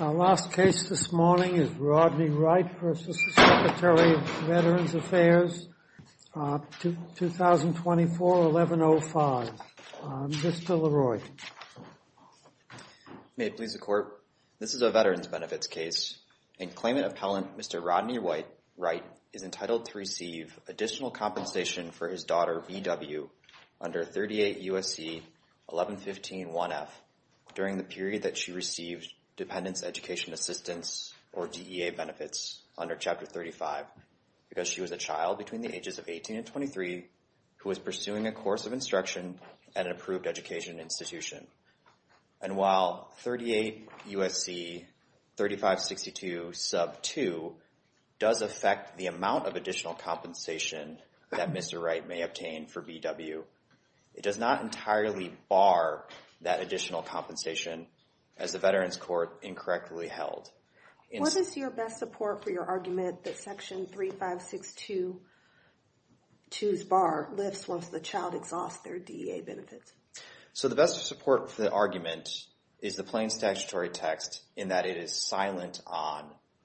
Our last case this morning is Rodney Wright v. Secretary of Veterans Affairs, 2024-1105. Mr. LeRoy. May it please the Court, this is a Veterans Benefits case, and claimant appellant Mr. Rodney Wright is entitled to receive additional compensation for his daughter B.W. under 38 U.S.C. 1115-1F during the period that she received Dependents Education Assistance or DEA benefits under Chapter 35 because she was a child between the ages of 18 and 23 who was pursuing a course of instruction at an approved education institution. And while 38 U.S.C. 3562-2 does affect the amount of additional compensation that Mr. Wright may obtain for B.W., it does not entirely bar that additional compensation as the Veterans Court incorrectly held. What is your best support for your argument that Section 3562-2's bar lifts once the child exhausts their DEA benefits? Mr. LeRoy. So the best support for the argument is the plain statutory text in that it is silent on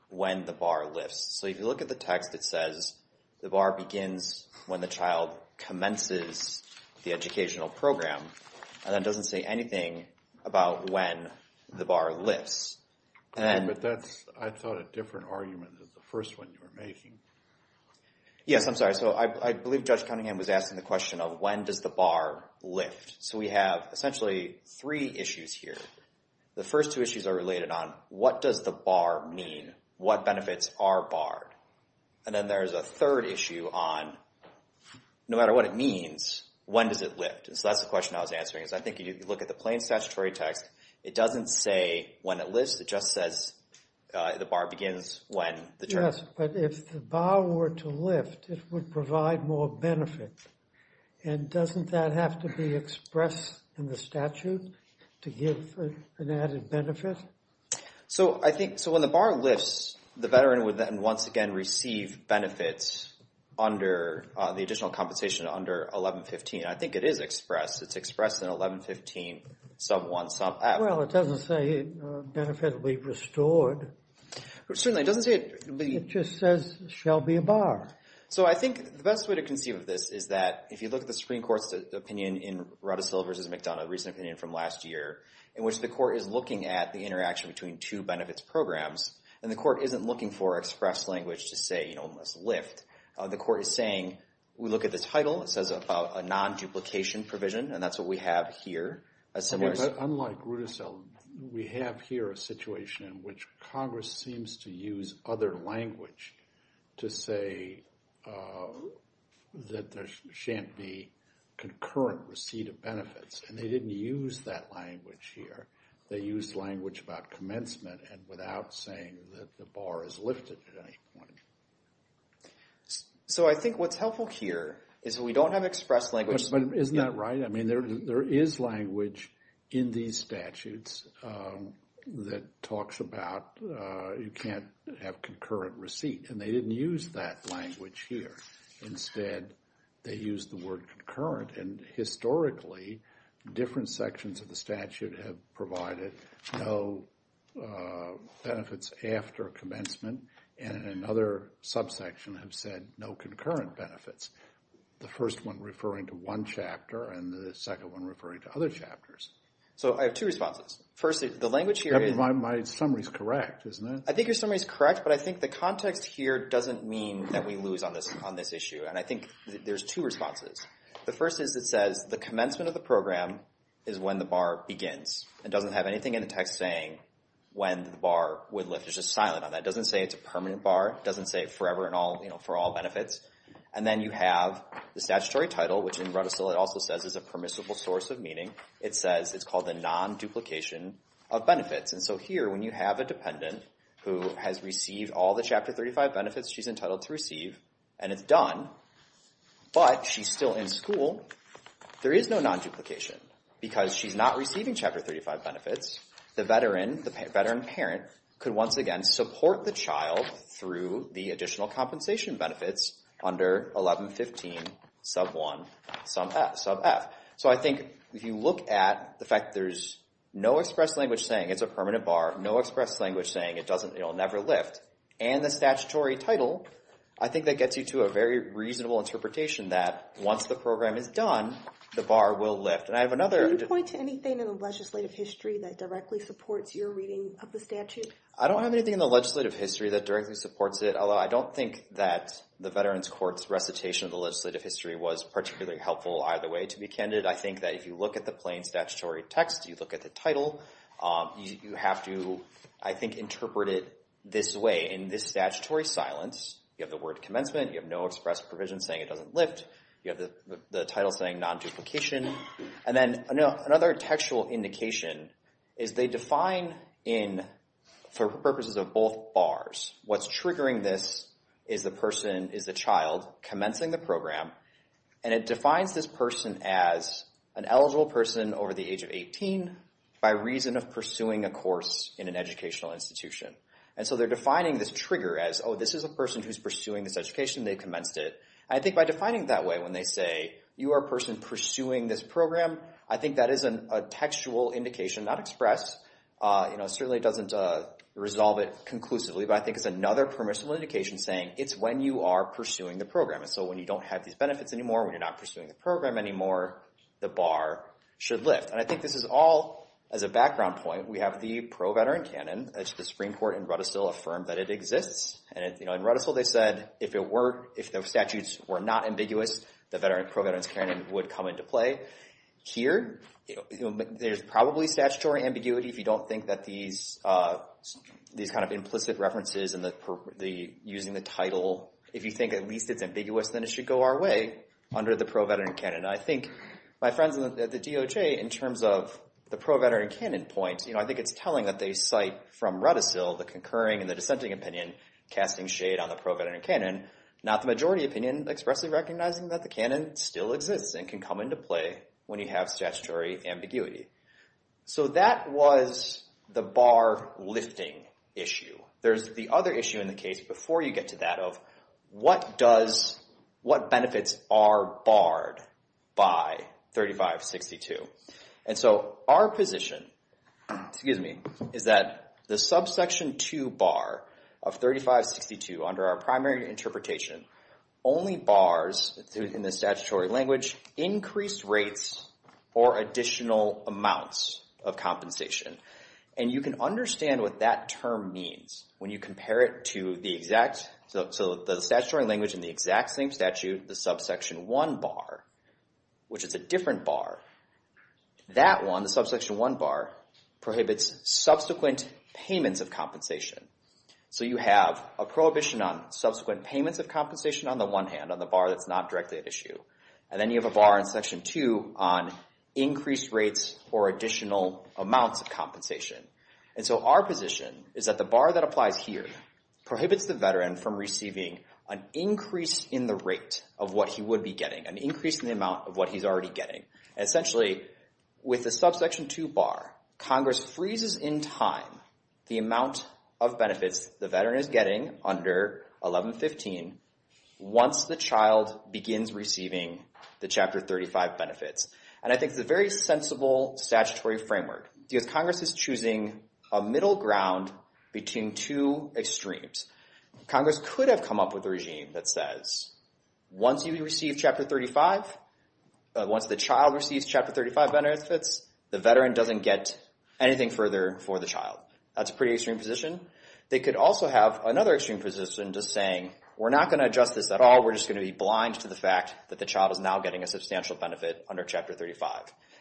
when the bar lifts. So if you look at the text, it says the bar begins when the child commences the educational program and it doesn't say anything about when the bar lifts. And then— But that's, I thought, a different argument than the first one you were making. Yes, I'm sorry. So I believe Judge Cunningham was asking the question of when does the bar lift. So we have essentially three issues here. The first two issues are related on what does the bar mean? What benefits are barred? And then there's a third issue on no matter what it means, when does it lift? And so that's the question I was answering is I think if you look at the plain statutory text, it doesn't say when it lifts, it just says the bar begins when the child— Yes, but if the bar were to lift, it would provide more benefit. And doesn't that have to be expressed in the statute to give an added benefit? So I think—so when the bar lifts, the veteran would then once again receive benefits under the additional compensation under 1115. I think it is expressed. It's expressed in 1115 sub 1, sub F. Well, it doesn't say benefit will be restored. Certainly, it doesn't say— It just says there shall be a bar. So I think the best way to conceive of this is that if you look at the Supreme Court's opinion in Ruttersville v. McDonough, a recent opinion from last year, in which the court is looking at the interaction between two benefits programs, and the court isn't looking for express language to say it must lift. The court is saying we look at the title. It says about a non-duplication provision, and that's what we have here. Unlike Ruttersville, we have here a situation in which Congress seems to use other language to say that there shan't be concurrent receipt of benefits, and they didn't use that language here. They used language about commencement and without saying that the bar is lifted at any point. So I think what's helpful here is that we don't have express language. But isn't that right? I mean, there is language in these statutes that talks about you can't have concurrent receipt, and they didn't use that language here. Instead, they used the word concurrent, and historically, different sections of the statute have provided no benefits after commencement, and another subsection have said no concurrent benefits. The first one referring to one chapter, and the second one referring to other chapters. So I have two responses. First, the language here is... My summary is correct, isn't it? I think your summary is correct, but I think the context here doesn't mean that we lose on this issue, and I think there's two responses. The first is it says the commencement of the program is when the bar begins. It doesn't have anything in the text saying when the bar would lift. It's just silent on that. It doesn't say it's a permanent bar. It doesn't say forever for all benefits. And then you have the statutory title, which in runner still it also says is a permissible source of meaning. It says it's called the non-duplication of benefits, and so here when you have a dependent who has received all the Chapter 35 benefits she's entitled to receive, and it's done, but she's still in school, there is no non-duplication because she's not receiving Chapter 35 benefits. The veteran parent could once again support the child through the additional compensation benefits under 1115 sub 1 sub F. So I think if you look at the fact there's no express language saying it's a permanent bar, no express language saying it'll never lift, and the statutory title, I think that gets you to a very reasonable interpretation that once the program is done, the bar will lift. Can you point to anything in the legislative history that directly supports your reading of the statute? I don't have anything in the legislative history that directly supports it, although I don't think that the Veterans Court's recitation of the legislative history was particularly helpful either way to be candid. I think that if you look at the plain statutory text, you look at the title, you have to, I think, interpret it this way. In this statutory silence, you have the word commencement, you have no express provision saying it doesn't lift, you have the title saying non-duplication, and then another textual indication is they define in, for purposes of both bars, what's triggering this is the person is a child commencing the program, and it defines this person as an eligible person over the age of 18 by reason of pursuing a course in an educational institution. And so they're defining this trigger as, oh, this is a person who's pursuing this education, they've commenced it. And I think by defining it that way, when they say, you are a person pursuing this program, I think that is a textual indication, not express. It certainly doesn't resolve it conclusively, but I think it's another permissible indication saying it's when you are pursuing the program. And so when you don't have these benefits anymore, when you're not pursuing the program anymore, the bar should lift. And I think this is all, as a background point, we have the pro-veteran canon. It's the Supreme Court in Rudisill affirmed that it exists. And in Rudisill, they said if the statutes were not ambiguous, the pro-veterans canon would come into play. Here, there's probably statutory ambiguity. If you don't think that these kind of implicit references and using the title, if you think at least it's ambiguous, then it should go our way under the pro-veteran canon. I think my friends at the DOJ, in terms of the pro-veteran canon point, I think it's telling that they cite from Rudisill the concurring and the dissenting opinion casting shade on the pro-veteran canon, not the majority opinion expressly recognizing that the canon still exists and can come into play when you have statutory ambiguity. So that was the bar lifting issue. There's the other issue in the case before you get to that of what benefits are barred by 3562. Our position is that the subsection 2 bar of 3562, under our primary interpretation, only bars in the statutory language increased rates or additional amounts of compensation. And you can understand what that term means when you compare it to the exact, so the statutory language in the exact same statute, the subsection 1 bar, which is a different bar. That one, the subsection 1 bar, prohibits subsequent payments of compensation. So you have a prohibition on subsequent payments of compensation on the one hand, on the bar that's not directly at issue. And then you have a bar in section 2 on increased rates or additional amounts of compensation. And so our position is that the bar that applies here prohibits the veteran from receiving an increase in the rate of what he would be getting, an increase in the amount of what he's already getting. Essentially, with the subsection 2 bar, Congress freezes in time the amount of benefits the veteran is getting under 1115 once the child begins receiving the Chapter 35 benefits. And I think it's a very sensible statutory framework because Congress is choosing a middle ground between two extremes. Congress could have come up with a regime that says, once you receive Chapter 35, once the child receives Chapter 35 benefits, the veteran doesn't get anything further for the child. That's a pretty extreme position. They could also have another extreme position just saying, we're not going to adjust this at all. We're just going to be blind to the fact that the child is now getting a substantial benefit under Chapter 35.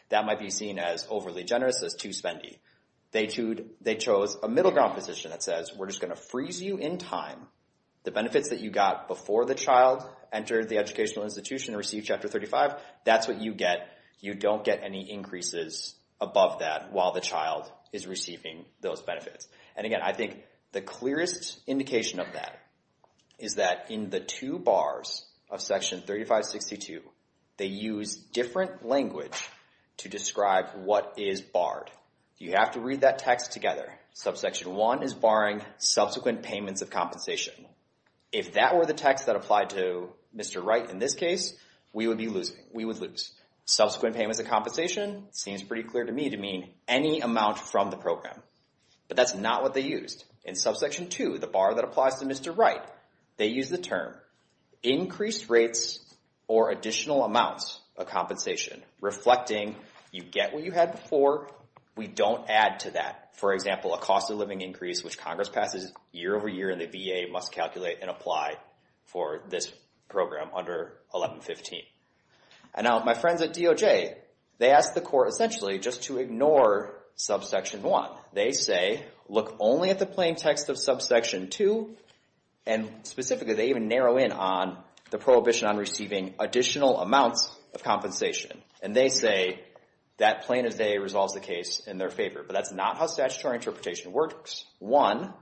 That might be seen as overly generous, as too spendy. They chose a middle ground position that says, we're just going to freeze you in time. The benefits that you got before the child entered the educational institution and received Chapter 35, that's what you get. You don't get any increases above that while the child is receiving those benefits. And again, I think the clearest indication of that is that in the two bars of Section 3562, they use different language to describe what is barred. You have to read that text together. Subsection 1 is barring subsequent payments of compensation. If that were the text that applied to Mr. Wright in this case, we would be losing. We would lose. Subsequent payments of compensation seems pretty clear to me to mean any amount from the program. But that's not what they used. In Subsection 2, the bar that applies to Mr. Wright, they use the term increased rates or additional amounts of compensation. Reflecting, you get what you had before. We don't add to that. For example, a cost of living increase which Congress passes year over year and the VA must calculate and apply for this program under 1115. And now my friends at DOJ, they ask the court essentially just to ignore Subsection 1. They say, look only at the plain text of Subsection 2. And specifically, they even narrow in on the prohibition on receiving additional amounts of compensation. And they say that plain as day resolves the case in their favor. But that's not how statutory interpretation works. One,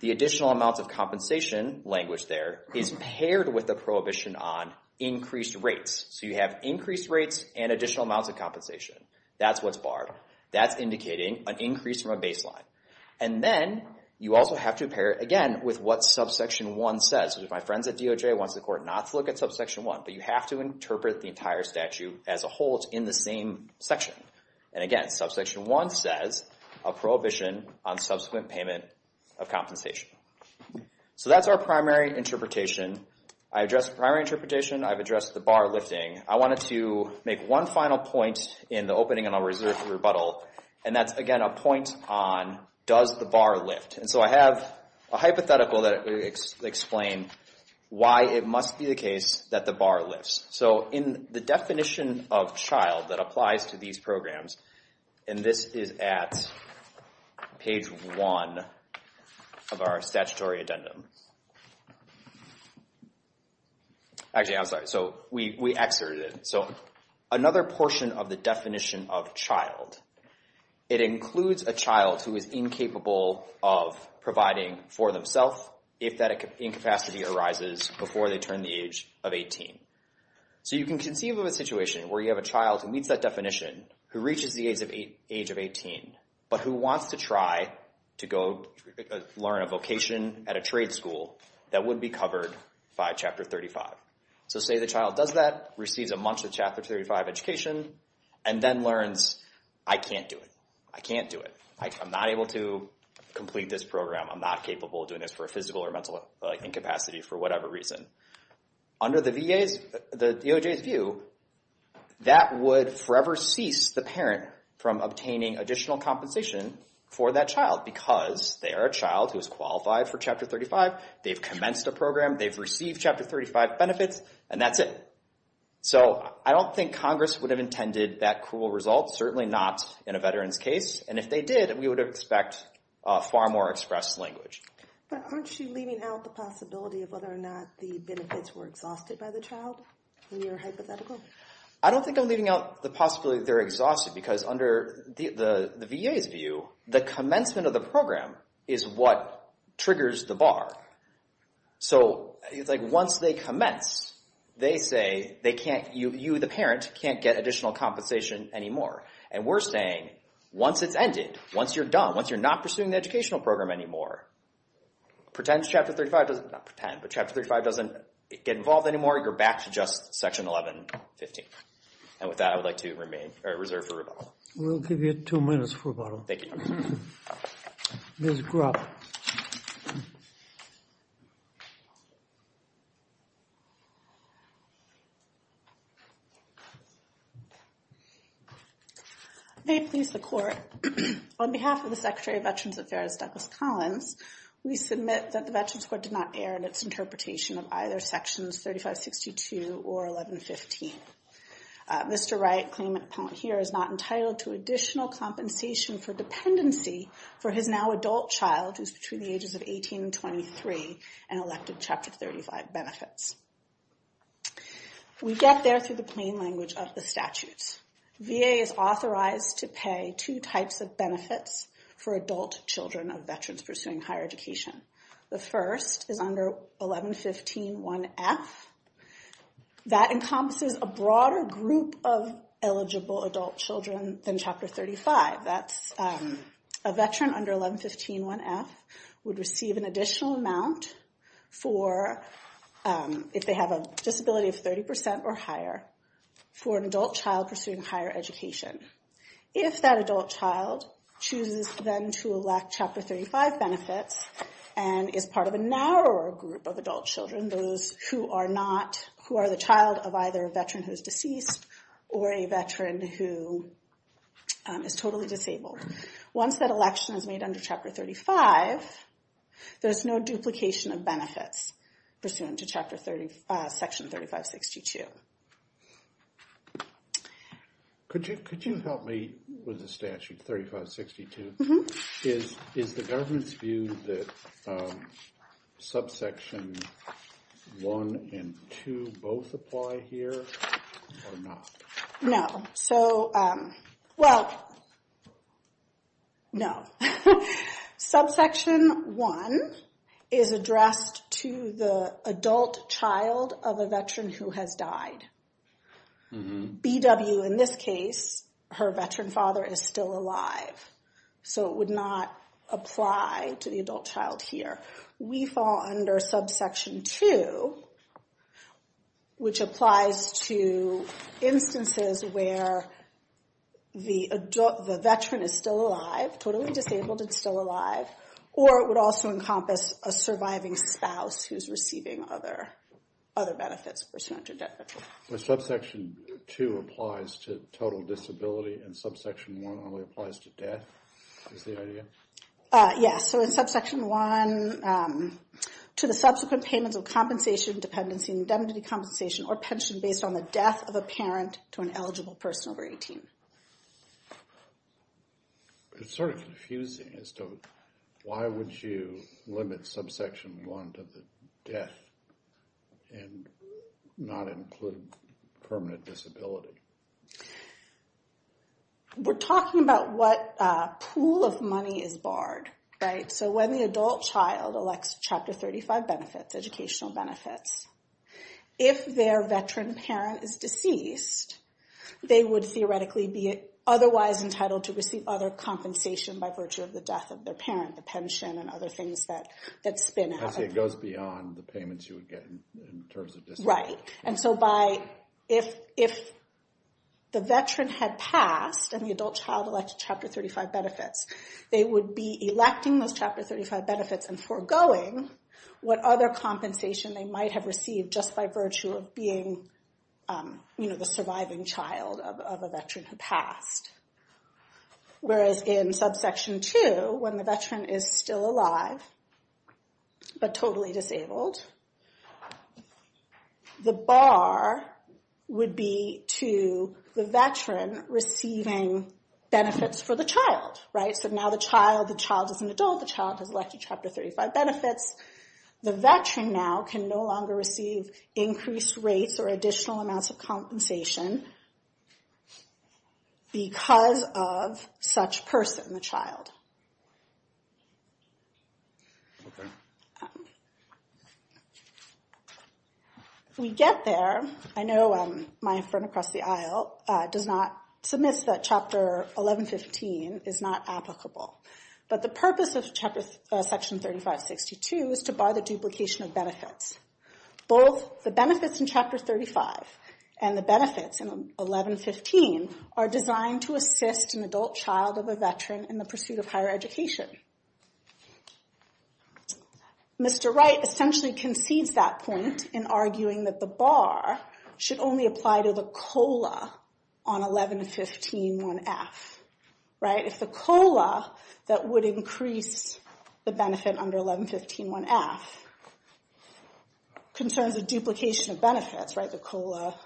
the additional amounts of compensation language there is paired with the prohibition on increased rates. So you have increased rates and additional amounts of compensation. That's what's barred. That's indicating an increase from a baseline. And then you also have to pair it again with what Subsection 1 says. My friends at DOJ want the court not to look at Subsection 1. But you have to interpret the entire statute as a whole. It's in the same section. And again, Subsection 1 says a prohibition on subsequent payment of compensation. So that's our primary interpretation. I addressed primary interpretation. I've addressed the bar lifting. I wanted to make one final point in the opening and I'll reserve the rebuttal. And that's, again, a point on does the bar lift. And so I have a hypothetical that explains why it must be the case that the bar lifts. So in the definition of child that applies to these programs, and this is at page 1 of our statutory addendum. Actually, I'm sorry. So we exerted it. So another portion of the definition of child, it includes a child who is incapable of providing for themselves if that incapacity arises before they turn the age of 18. So you can conceive of a situation where you have a child who meets that definition, who reaches the age of 18, but who wants to try to go learn a vocation at a trade school that would be covered by Chapter 35. So say the child does that, receives a month of Chapter 35 education, and then learns, I can't do it. I can't do it. I'm not able to complete this program. I'm not capable of doing this for a physical or mental incapacity for whatever reason. Under the DOJ's view, that would forever cease the parent from obtaining additional compensation for that child because they are a child who is qualified for Chapter 35. They've commenced a program. They've received Chapter 35 benefits, and that's it. So I don't think Congress would have intended that cruel result, certainly not in a veteran's case. And if they did, we would expect far more expressed language. But aren't you leaving out the possibility of whether or not the benefits were exhausted by the child in your hypothetical? I don't think I'm leaving out the possibility that they're exhausted because under the VA's view, the commencement of the program is what triggers the bar. So it's like once they commence, they say you, the parent, can't get additional compensation anymore. And we're saying once it's ended, once you're done, once you're not pursuing the educational program anymore, pretend Chapter 35 doesn't get involved anymore, you're back to just Section 1115. And with that, I would like to reserve for rebuttal. We'll give you two minutes for rebuttal. Thank you. Ms. Grubb. May it please the Court, on behalf of the Secretary of Veterans Affairs, Douglas Collins, we submit that the Veterans Court did not err in its interpretation of either Sections 3562 or 1115. Mr. Wright, claimant here, is not entitled to additional compensation for dependency for his now adult child, who's between the ages of 18 and 23, and elected Chapter 35 benefits. We get there through the plain language of the statutes. VA is authorized to pay two types of benefits for adult children of veterans pursuing higher education. The first is under 1115 1F. That encompasses a broader group of eligible adult children than Chapter 35. That's a veteran under 1115 1F would receive an additional amount for, if they have a disability of 30% or higher, for an adult child pursuing higher education. If that adult child chooses then to elect Chapter 35 benefits and is part of a narrower group of adult children, those who are not, who are the child of either a veteran who's deceased or a veteran who is totally disabled, once that election is made under Chapter 35, there's no duplication of benefits pursuant to Section 3562. Thank you. Could you help me with the statute 3562? Is the government's view that subsection 1 and 2 both apply here or not? No. So, well, no. Subsection 1 is addressed to the adult child of a veteran who has died. BW in this case, her veteran father is still alive. So it would not apply to the adult child here. We fall under subsection 2, which applies to instances where the veteran is still alive, totally disabled and still alive, or it would also encompass a surviving spouse who's receiving other benefits pursuant to that. But subsection 2 applies to total disability and subsection 1 only applies to death is the idea? Yes. So in subsection 1, to the subsequent payments of compensation, dependency, indemnity compensation, or pension based on the death of a parent to an eligible person over 18. It's sort of confusing as to why would you limit subsection 1 to the death and not include permanent disability? We're talking about what pool of money is barred, right? So when the adult child elects Chapter 35 benefits, educational benefits, if their veteran parent is deceased, they would theoretically be otherwise entitled to receive other compensation by virtue of the death of their parent, the pension and other things that spin out. It goes beyond the payments you would get in terms of disability. Right. And so if the veteran had passed and the adult child elected Chapter 35 benefits, they would be electing those Chapter 35 benefits and foregoing what other compensation they might have received just by virtue of being the surviving child of a veteran who passed. Whereas in subsection 2, when the veteran is still alive, but totally disabled, the bar would be to the veteran receiving benefits for the child. Right. So now the child, the child is an adult, the child has elected Chapter 35 benefits. The veteran now can no longer receive increased rates or additional amounts of compensation because of such person, the child. Okay. If we get there, I know my friend across the aisle does not, submits that Chapter 1115 is not applicable. But the purpose of Section 3562 is to bar the duplication of benefits. Both the benefits in Chapter 35 and the benefits in 1115 are designed to assist an adult child of a veteran in the pursuit of higher education. Mr. Wright essentially concedes that point in arguing that the bar should only apply to the COLA on 1115 1F. Right. If the COLA that would increase the benefit under 1115 1F concerns a duplication of benefits, right, the COLA,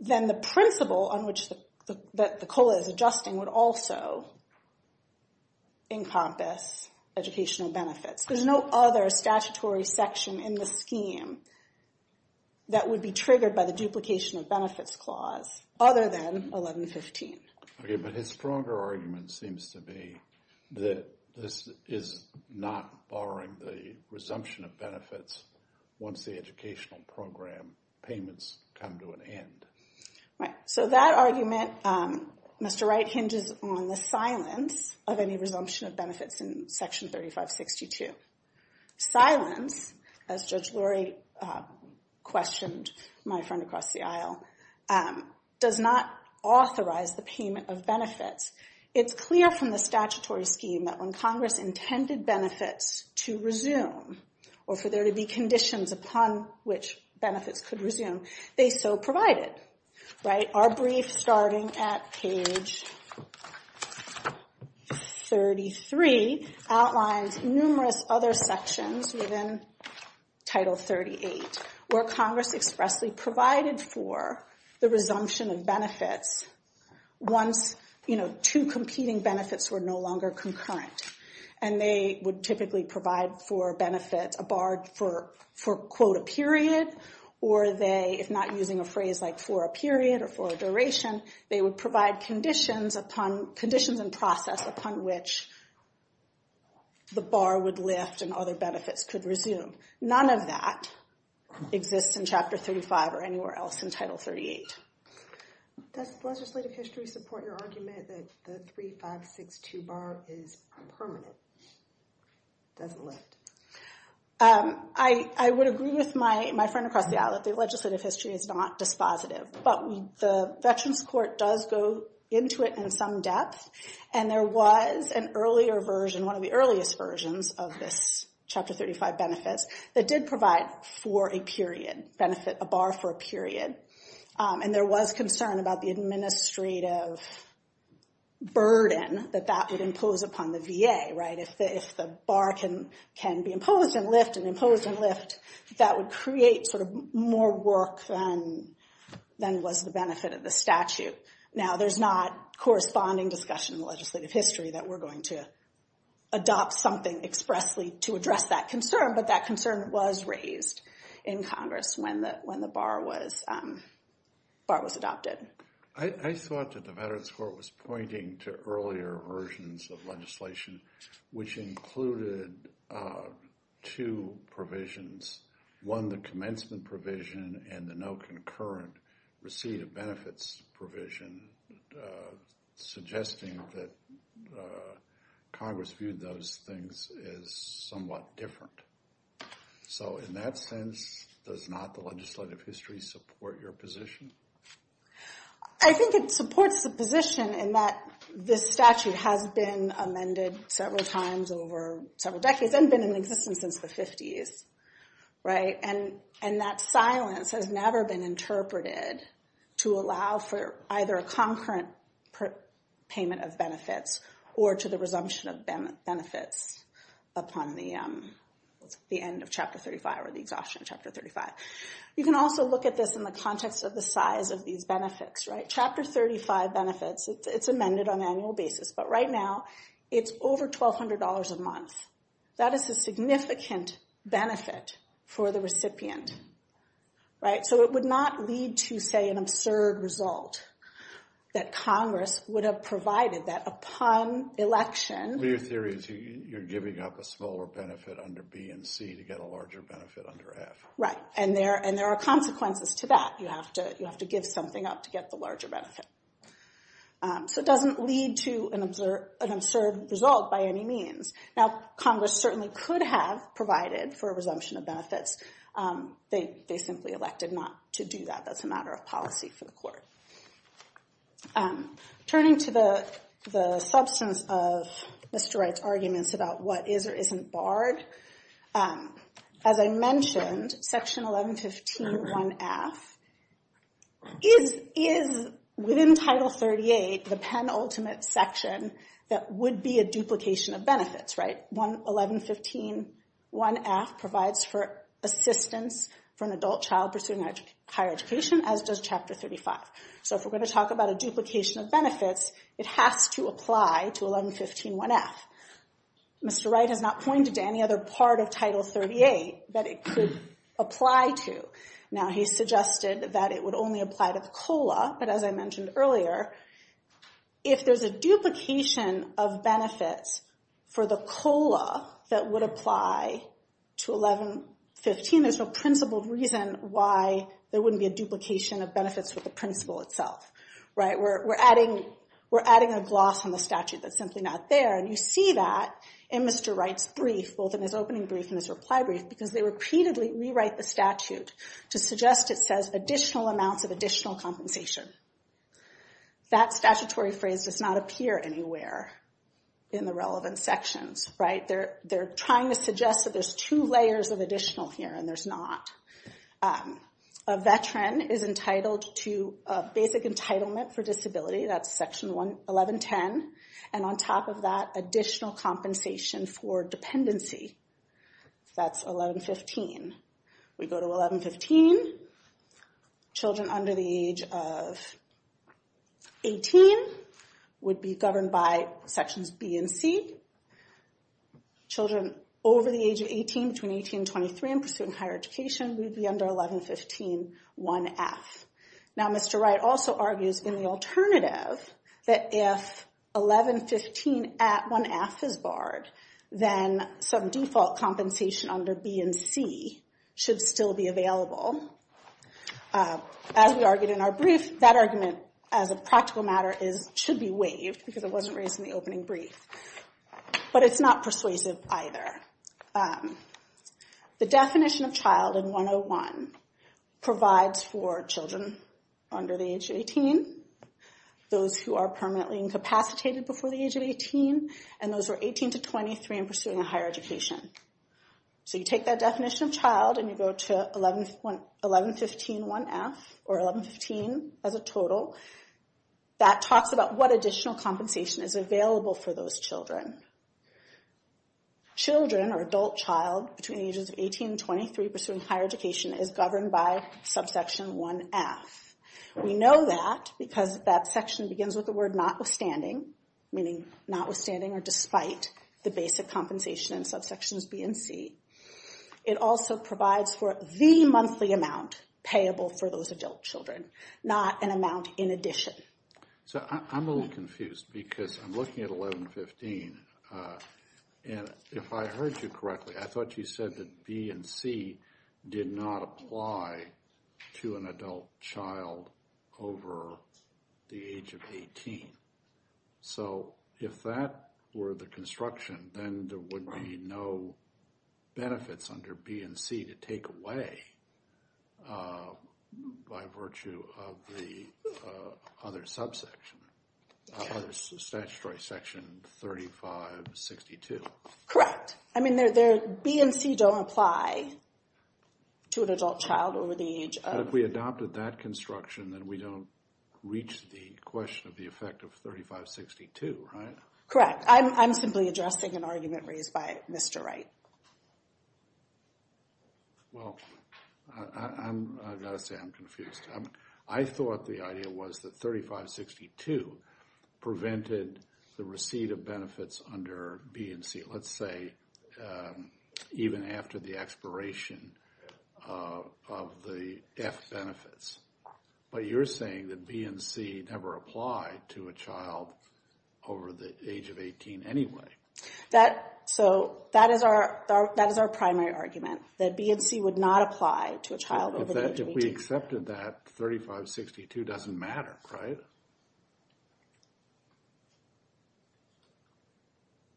then the principle on which the COLA is adjusting would also encompass educational benefits. There's no other statutory section in the scheme that would be triggered by the duplication of benefits clause other than 1115. Okay, but his stronger argument seems to be that this is not barring the resumption of benefits once the educational program payments come to an end. Right. So that argument, Mr. Wright hinges on the silence of any resumption of benefits in Section 3562. Silence, as Judge Lurie questioned my friend across the aisle, does not authorize the payment of benefits. It's clear from the statutory scheme that when Congress intended benefits to resume, or for there to be conditions upon which benefits could resume, they so provided. Right. Our brief, starting at page 33, outlines numerous other sections within Title 38, where Congress expressly provided for the resumption of benefits once, you know, two competing benefits were no longer concurrent. And they would typically provide for benefits a bar for, quote, a period, or they, if not using a phrase like for a period or for a duration, they would provide conditions and process upon which the bar would lift and other benefits could resume. None of that exists in Chapter 35 or anywhere else in Title 38. Does legislative history support your argument that the 3562 bar is permanent, doesn't lift? I would agree with my friend across the aisle that the legislative history is not dispositive, but the Veterans Court does go into it in some depth, and there was an earlier version, one of the earliest versions of this Chapter 35 benefits that did provide for a period, benefit a bar for a period. And there was concern about the administrative burden that that would impose upon the VA, right? If the bar can be imposed and lift and imposed and lift, that would create sort of more work than was the benefit of the statute. Now, there's not corresponding discussion in the legislative history that we're going to adopt something expressly to address that concern, but that concern was raised in Congress when the bar was adopted. I thought that the Veterans Court was pointing to earlier versions of legislation, which included two provisions, one, the commencement provision and the no concurrent receipt of benefits provision, suggesting that Congress viewed those things as somewhat different. So in that sense, does not the legislative history support your position? I think it supports the position in that this statute has been amended several times over several decades and been in existence since the 50s, right? And that silence has never been interpreted to allow for either a concurrent payment of benefits or to the resumption of benefits upon the end of Chapter 35 or the exhaustion of Chapter 35. You can also look at this in the context of the size of these benefits, right? Chapter 35 benefits, it's amended on an annual basis, but right now it's over $1,200 a month. That is a significant benefit for the recipient, right? So it would not lead to, say, an absurd result that Congress would have provided that upon election. Well, your theory is you're giving up a smaller benefit under B and C to get a larger benefit under F. Right, and there are consequences to that. You have to give something up to get the larger benefit. So it doesn't lead to an absurd result by any means. Now, Congress certainly could have provided for a resumption of benefits. They simply elected not to do that. That's a matter of policy for the court. Turning to the substance of Mr. Wright's arguments about what is or isn't barred, as I mentioned, Section 1115.1F is, within Title 38, the penultimate section that would be a duplication of benefits, right? 1115.1F provides for assistance for an adult child pursuing higher education, as does Chapter 35. So if we're going to talk about a duplication of benefits, it has to apply to 1115.1F. Mr. Wright has not pointed to any other part of Title 38 that it could apply to. Now, he suggested that it would only apply to the COLA, but as I mentioned earlier, if there's a duplication of benefits for the COLA that would apply to 1115, there's no principled reason why there wouldn't be a duplication of benefits with the principle itself, right? We're adding a gloss on the statute that's simply not there. And you see that in Mr. Wright's brief, both in his opening brief and his reply brief, because they repeatedly rewrite the statute to suggest it says additional amounts of additional compensation. That statutory phrase does not appear anywhere in the relevant sections, right? They're trying to suggest that there's two layers of additional here, and there's not. A veteran is entitled to a basic entitlement for disability. That's Section 1110. And on top of that, additional compensation for dependency. That's 1115. We go to 1115. Children under the age of 18 would be governed by Sections B and C. Children over the age of 18, between 18 and 23, and pursuing higher education would be under 1115.1F. Now, Mr. Wright also argues in the alternative that if 1115.1F is barred, then some default compensation under B and C should still be available. As we argued in our brief, that argument, as a practical matter, should be waived, because it wasn't raised in the opening brief. But it's not persuasive either. The definition of child in 101 provides for children under the age of 18, those who are permanently incapacitated before the age of 18, and those who are 18 to 23 and pursuing a higher education. So you take that definition of child and you go to 1115.1F, or 1115 as a total. That talks about what additional compensation is available for those children. Children or adult child between the ages of 18 and 23 pursuing higher education is governed by subsection 1F. We know that because that section begins with the word notwithstanding, meaning notwithstanding or despite the basic compensation in subsections B and C. It also provides for the monthly amount payable for those adult children, not an amount in addition. So I'm a little confused because I'm looking at 1115. And if I heard you correctly, I thought you said that B and C did not apply to an adult child over the age of 18. So if that were the construction, then there would be no benefits under B and C to take away by virtue of the other subsection, other statutory section 3562. Correct. I mean, B and C don't apply to an adult child over the age of... But if we adopted that construction, then we don't reach the question of the effect of 3562, right? Correct. I'm simply addressing an argument raised by Mr. Wright. Well, I've got to say I'm confused. I thought the idea was that 3562 prevented the receipt of benefits under B and C. Let's say even after the expiration of the F benefits. But you're saying that B and C never applied to a child over the age of 18 anyway. So that is our primary argument, that B and C would not apply to a child over the age of 18. If we accepted that, 3562 doesn't matter, right?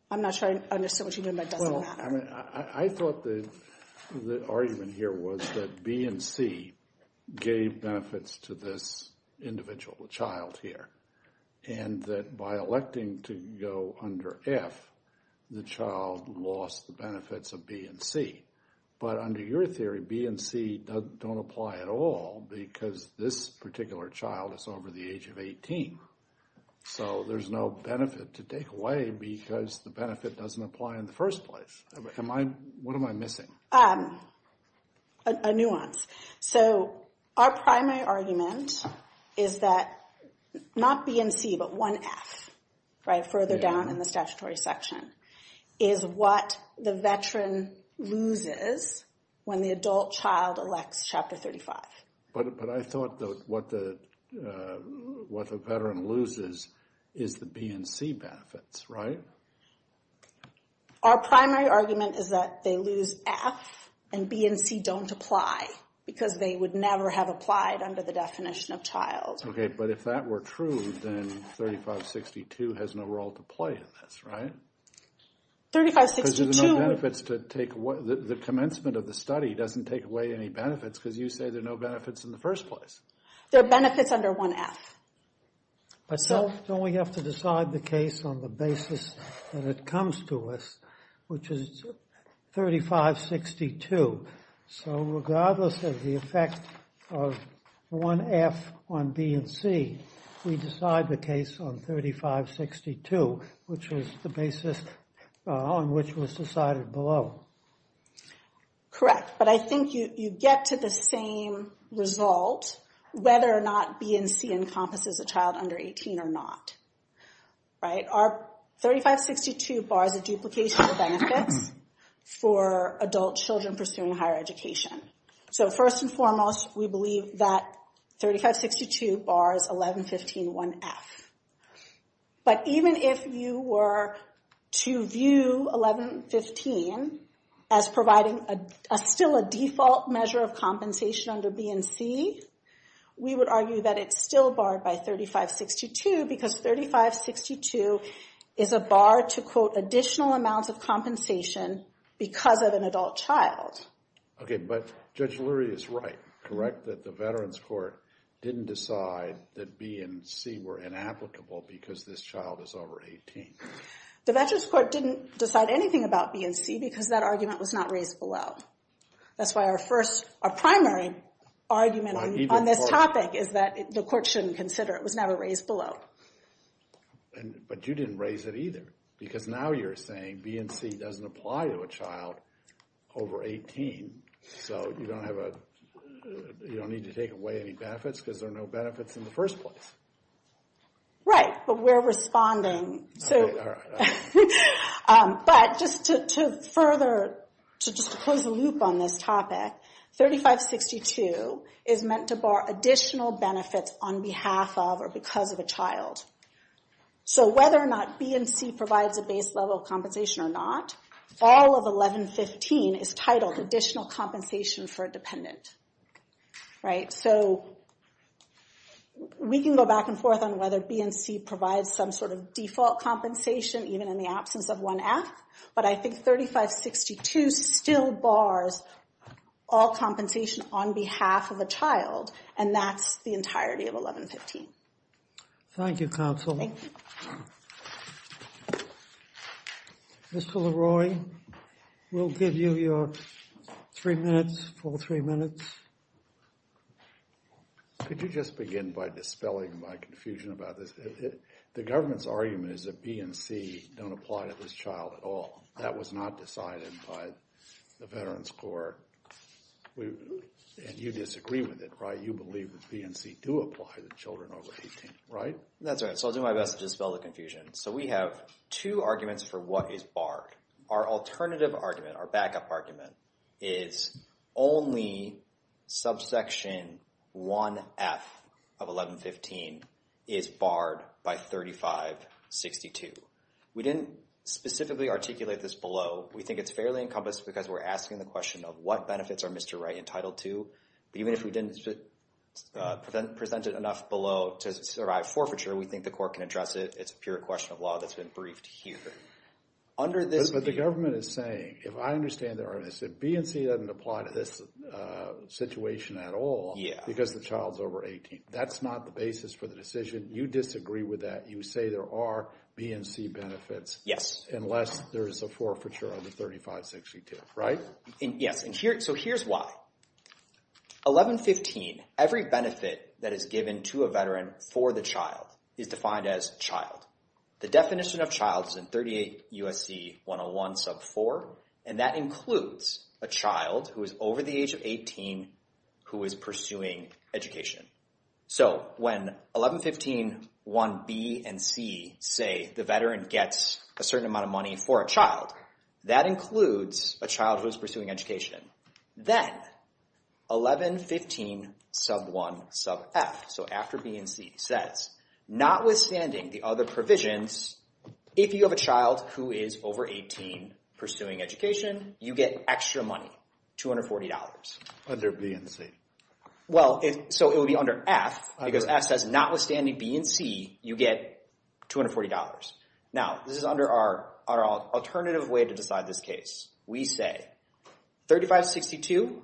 I'm not sure I understand what you're doing, but it doesn't matter. Well, I mean, I thought the argument here was that B and C gave benefits to this individual, the child here. And that by electing to go under F, the child lost the benefits of B and C. But under your theory, B and C don't apply at all because this particular child is over the age of 18. So there's no benefit to take away because the benefit doesn't apply in the first place. What am I missing? A nuance. So our primary argument is that not B and C, but 1F, right, further down in the statutory section, is what the veteran loses when the adult child elects Chapter 35. But I thought what the veteran loses is the B and C benefits, right? Our primary argument is that they lose F and B and C don't apply because they would never have applied under the definition of child. Okay, but if that were true, then 3562 has no role to play in this, right? Because the commencement of the study doesn't take away any benefits because you say there are no benefits in the first place. There are benefits under 1F. So we have to decide the case on the basis that it comes to us, which is 3562. So regardless of the effect of 1F on B and C, we decide the case on 3562, which is the basis on which was decided below. Correct. But I think you get to the same result whether or not B and C encompasses a child under 18 or not, right? Our 3562 bars a duplication of benefits for adult children pursuing higher education. So first and foremost, we believe that 3562 bars 1115.1F. But even if you were to view 1115 as providing still a default measure of compensation under B and C, we would argue that it's still barred by 3562 because 3562 is a bar to, quote, additional amounts of compensation because of an adult child. Okay, but Judge Lurie is right, correct, that the Veterans Court didn't decide that B and C were inapplicable because this child is over 18. The Veterans Court didn't decide anything about B and C because that argument was not raised below. That's why our primary argument on this topic is that the court shouldn't consider it. It was never raised below. But you didn't raise it either because now you're saying B and C doesn't apply to a child over 18. So you don't need to take away any benefits because there are no benefits in the first place. Right, but we're responding. All right, all right. But just to further, to just close the loop on this topic, 3562 is meant to bar additional benefits on behalf of or because of a child. So whether or not B and C provides a base level of compensation or not, all of 1115 is titled additional compensation for a dependent. Right, so we can go back and forth on whether B and C provides some sort of default compensation, even in the absence of 1F. But I think 3562 still bars all compensation on behalf of a child, and that's the entirety of 1115. Thank you, counsel. Thank you. Mr. LaRoy, we'll give you your three minutes, full three minutes. Could you just begin by dispelling my confusion about this? The government's argument is that B and C don't apply to this child at all. That was not decided by the Veterans Court, and you disagree with it, right? You believe that B and C do apply to children over 18, right? That's right, so I'll do my best to dispel the confusion. So we have two arguments for what is barred. Our alternative argument, our backup argument, is only subsection 1F of 1115 is barred by 3562. We didn't specifically articulate this below. We think it's fairly encompassed because we're asking the question of what benefits are Mr. Wright entitled to. But even if we didn't present it enough below to survive forfeiture, we think the court can address it. It's a pure question of law that's been briefed here. But the government is saying, if I understand this, B and C doesn't apply to this situation at all because the child's over 18. That's not the basis for the decision. You disagree with that. You say there are B and C benefits unless there is a forfeiture under 3562, right? Yes, and so here's why. 1115, every benefit that is given to a veteran for the child is defined as child. The definition of child is in 38 U.S.C. 101 sub 4, and that includes a child who is over the age of 18 who is pursuing education. So when 1115, 1B and C say the veteran gets a certain amount of money for a child, that includes a child who is pursuing education. Then 1115 sub 1 sub F, so after B and C says, notwithstanding the other provisions, if you have a child who is over 18 pursuing education, you get extra money, $240. Under B and C? Well, so it would be under F because F says, notwithstanding B and C, you get $240. Now, this is under our alternative way to decide this case. We say 3562,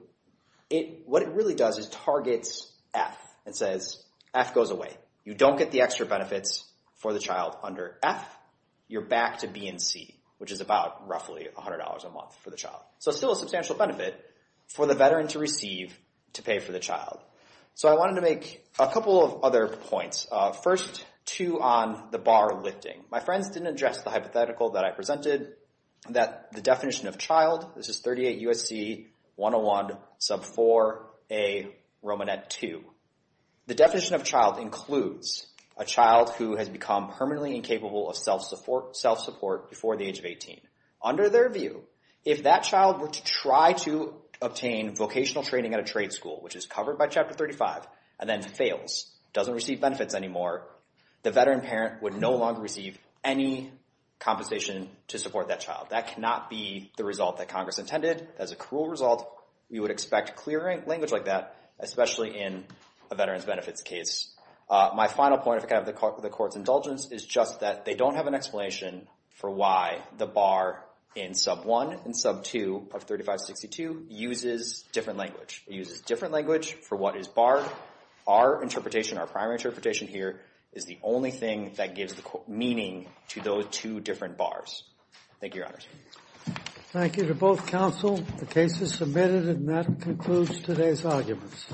what it really does is targets F and says F goes away. You don't get the extra benefits for the child under F. You're back to B and C, which is about roughly $100 a month for the child. So still a substantial benefit for the veteran to receive to pay for the child. So I wanted to make a couple of other points. First, two on the bar lifting. My friends didn't address the hypothetical that I presented, that the definition of child, this is 38 U.S.C. 101 sub 4A Romanet 2. The definition of child includes a child who has become permanently incapable of self-support before the age of 18. Under their view, if that child were to try to obtain vocational training at a trade school, which is covered by Chapter 35 and then fails, doesn't receive benefits anymore, the veteran parent would no longer receive any compensation to support that child. That cannot be the result that Congress intended. That is a cruel result. You would expect clear language like that, especially in a veterans' benefits case. My final point, if I can have the Court's indulgence, is just that they don't have an explanation for why the bar in sub 1 and sub 2 of 3562 uses different language. It uses different language for what is barred. Our interpretation, our primary interpretation here, is the only thing that gives meaning to those two different bars. Thank you, Your Honors. Thank you to both counsel. The case is submitted, and that concludes today's arguments.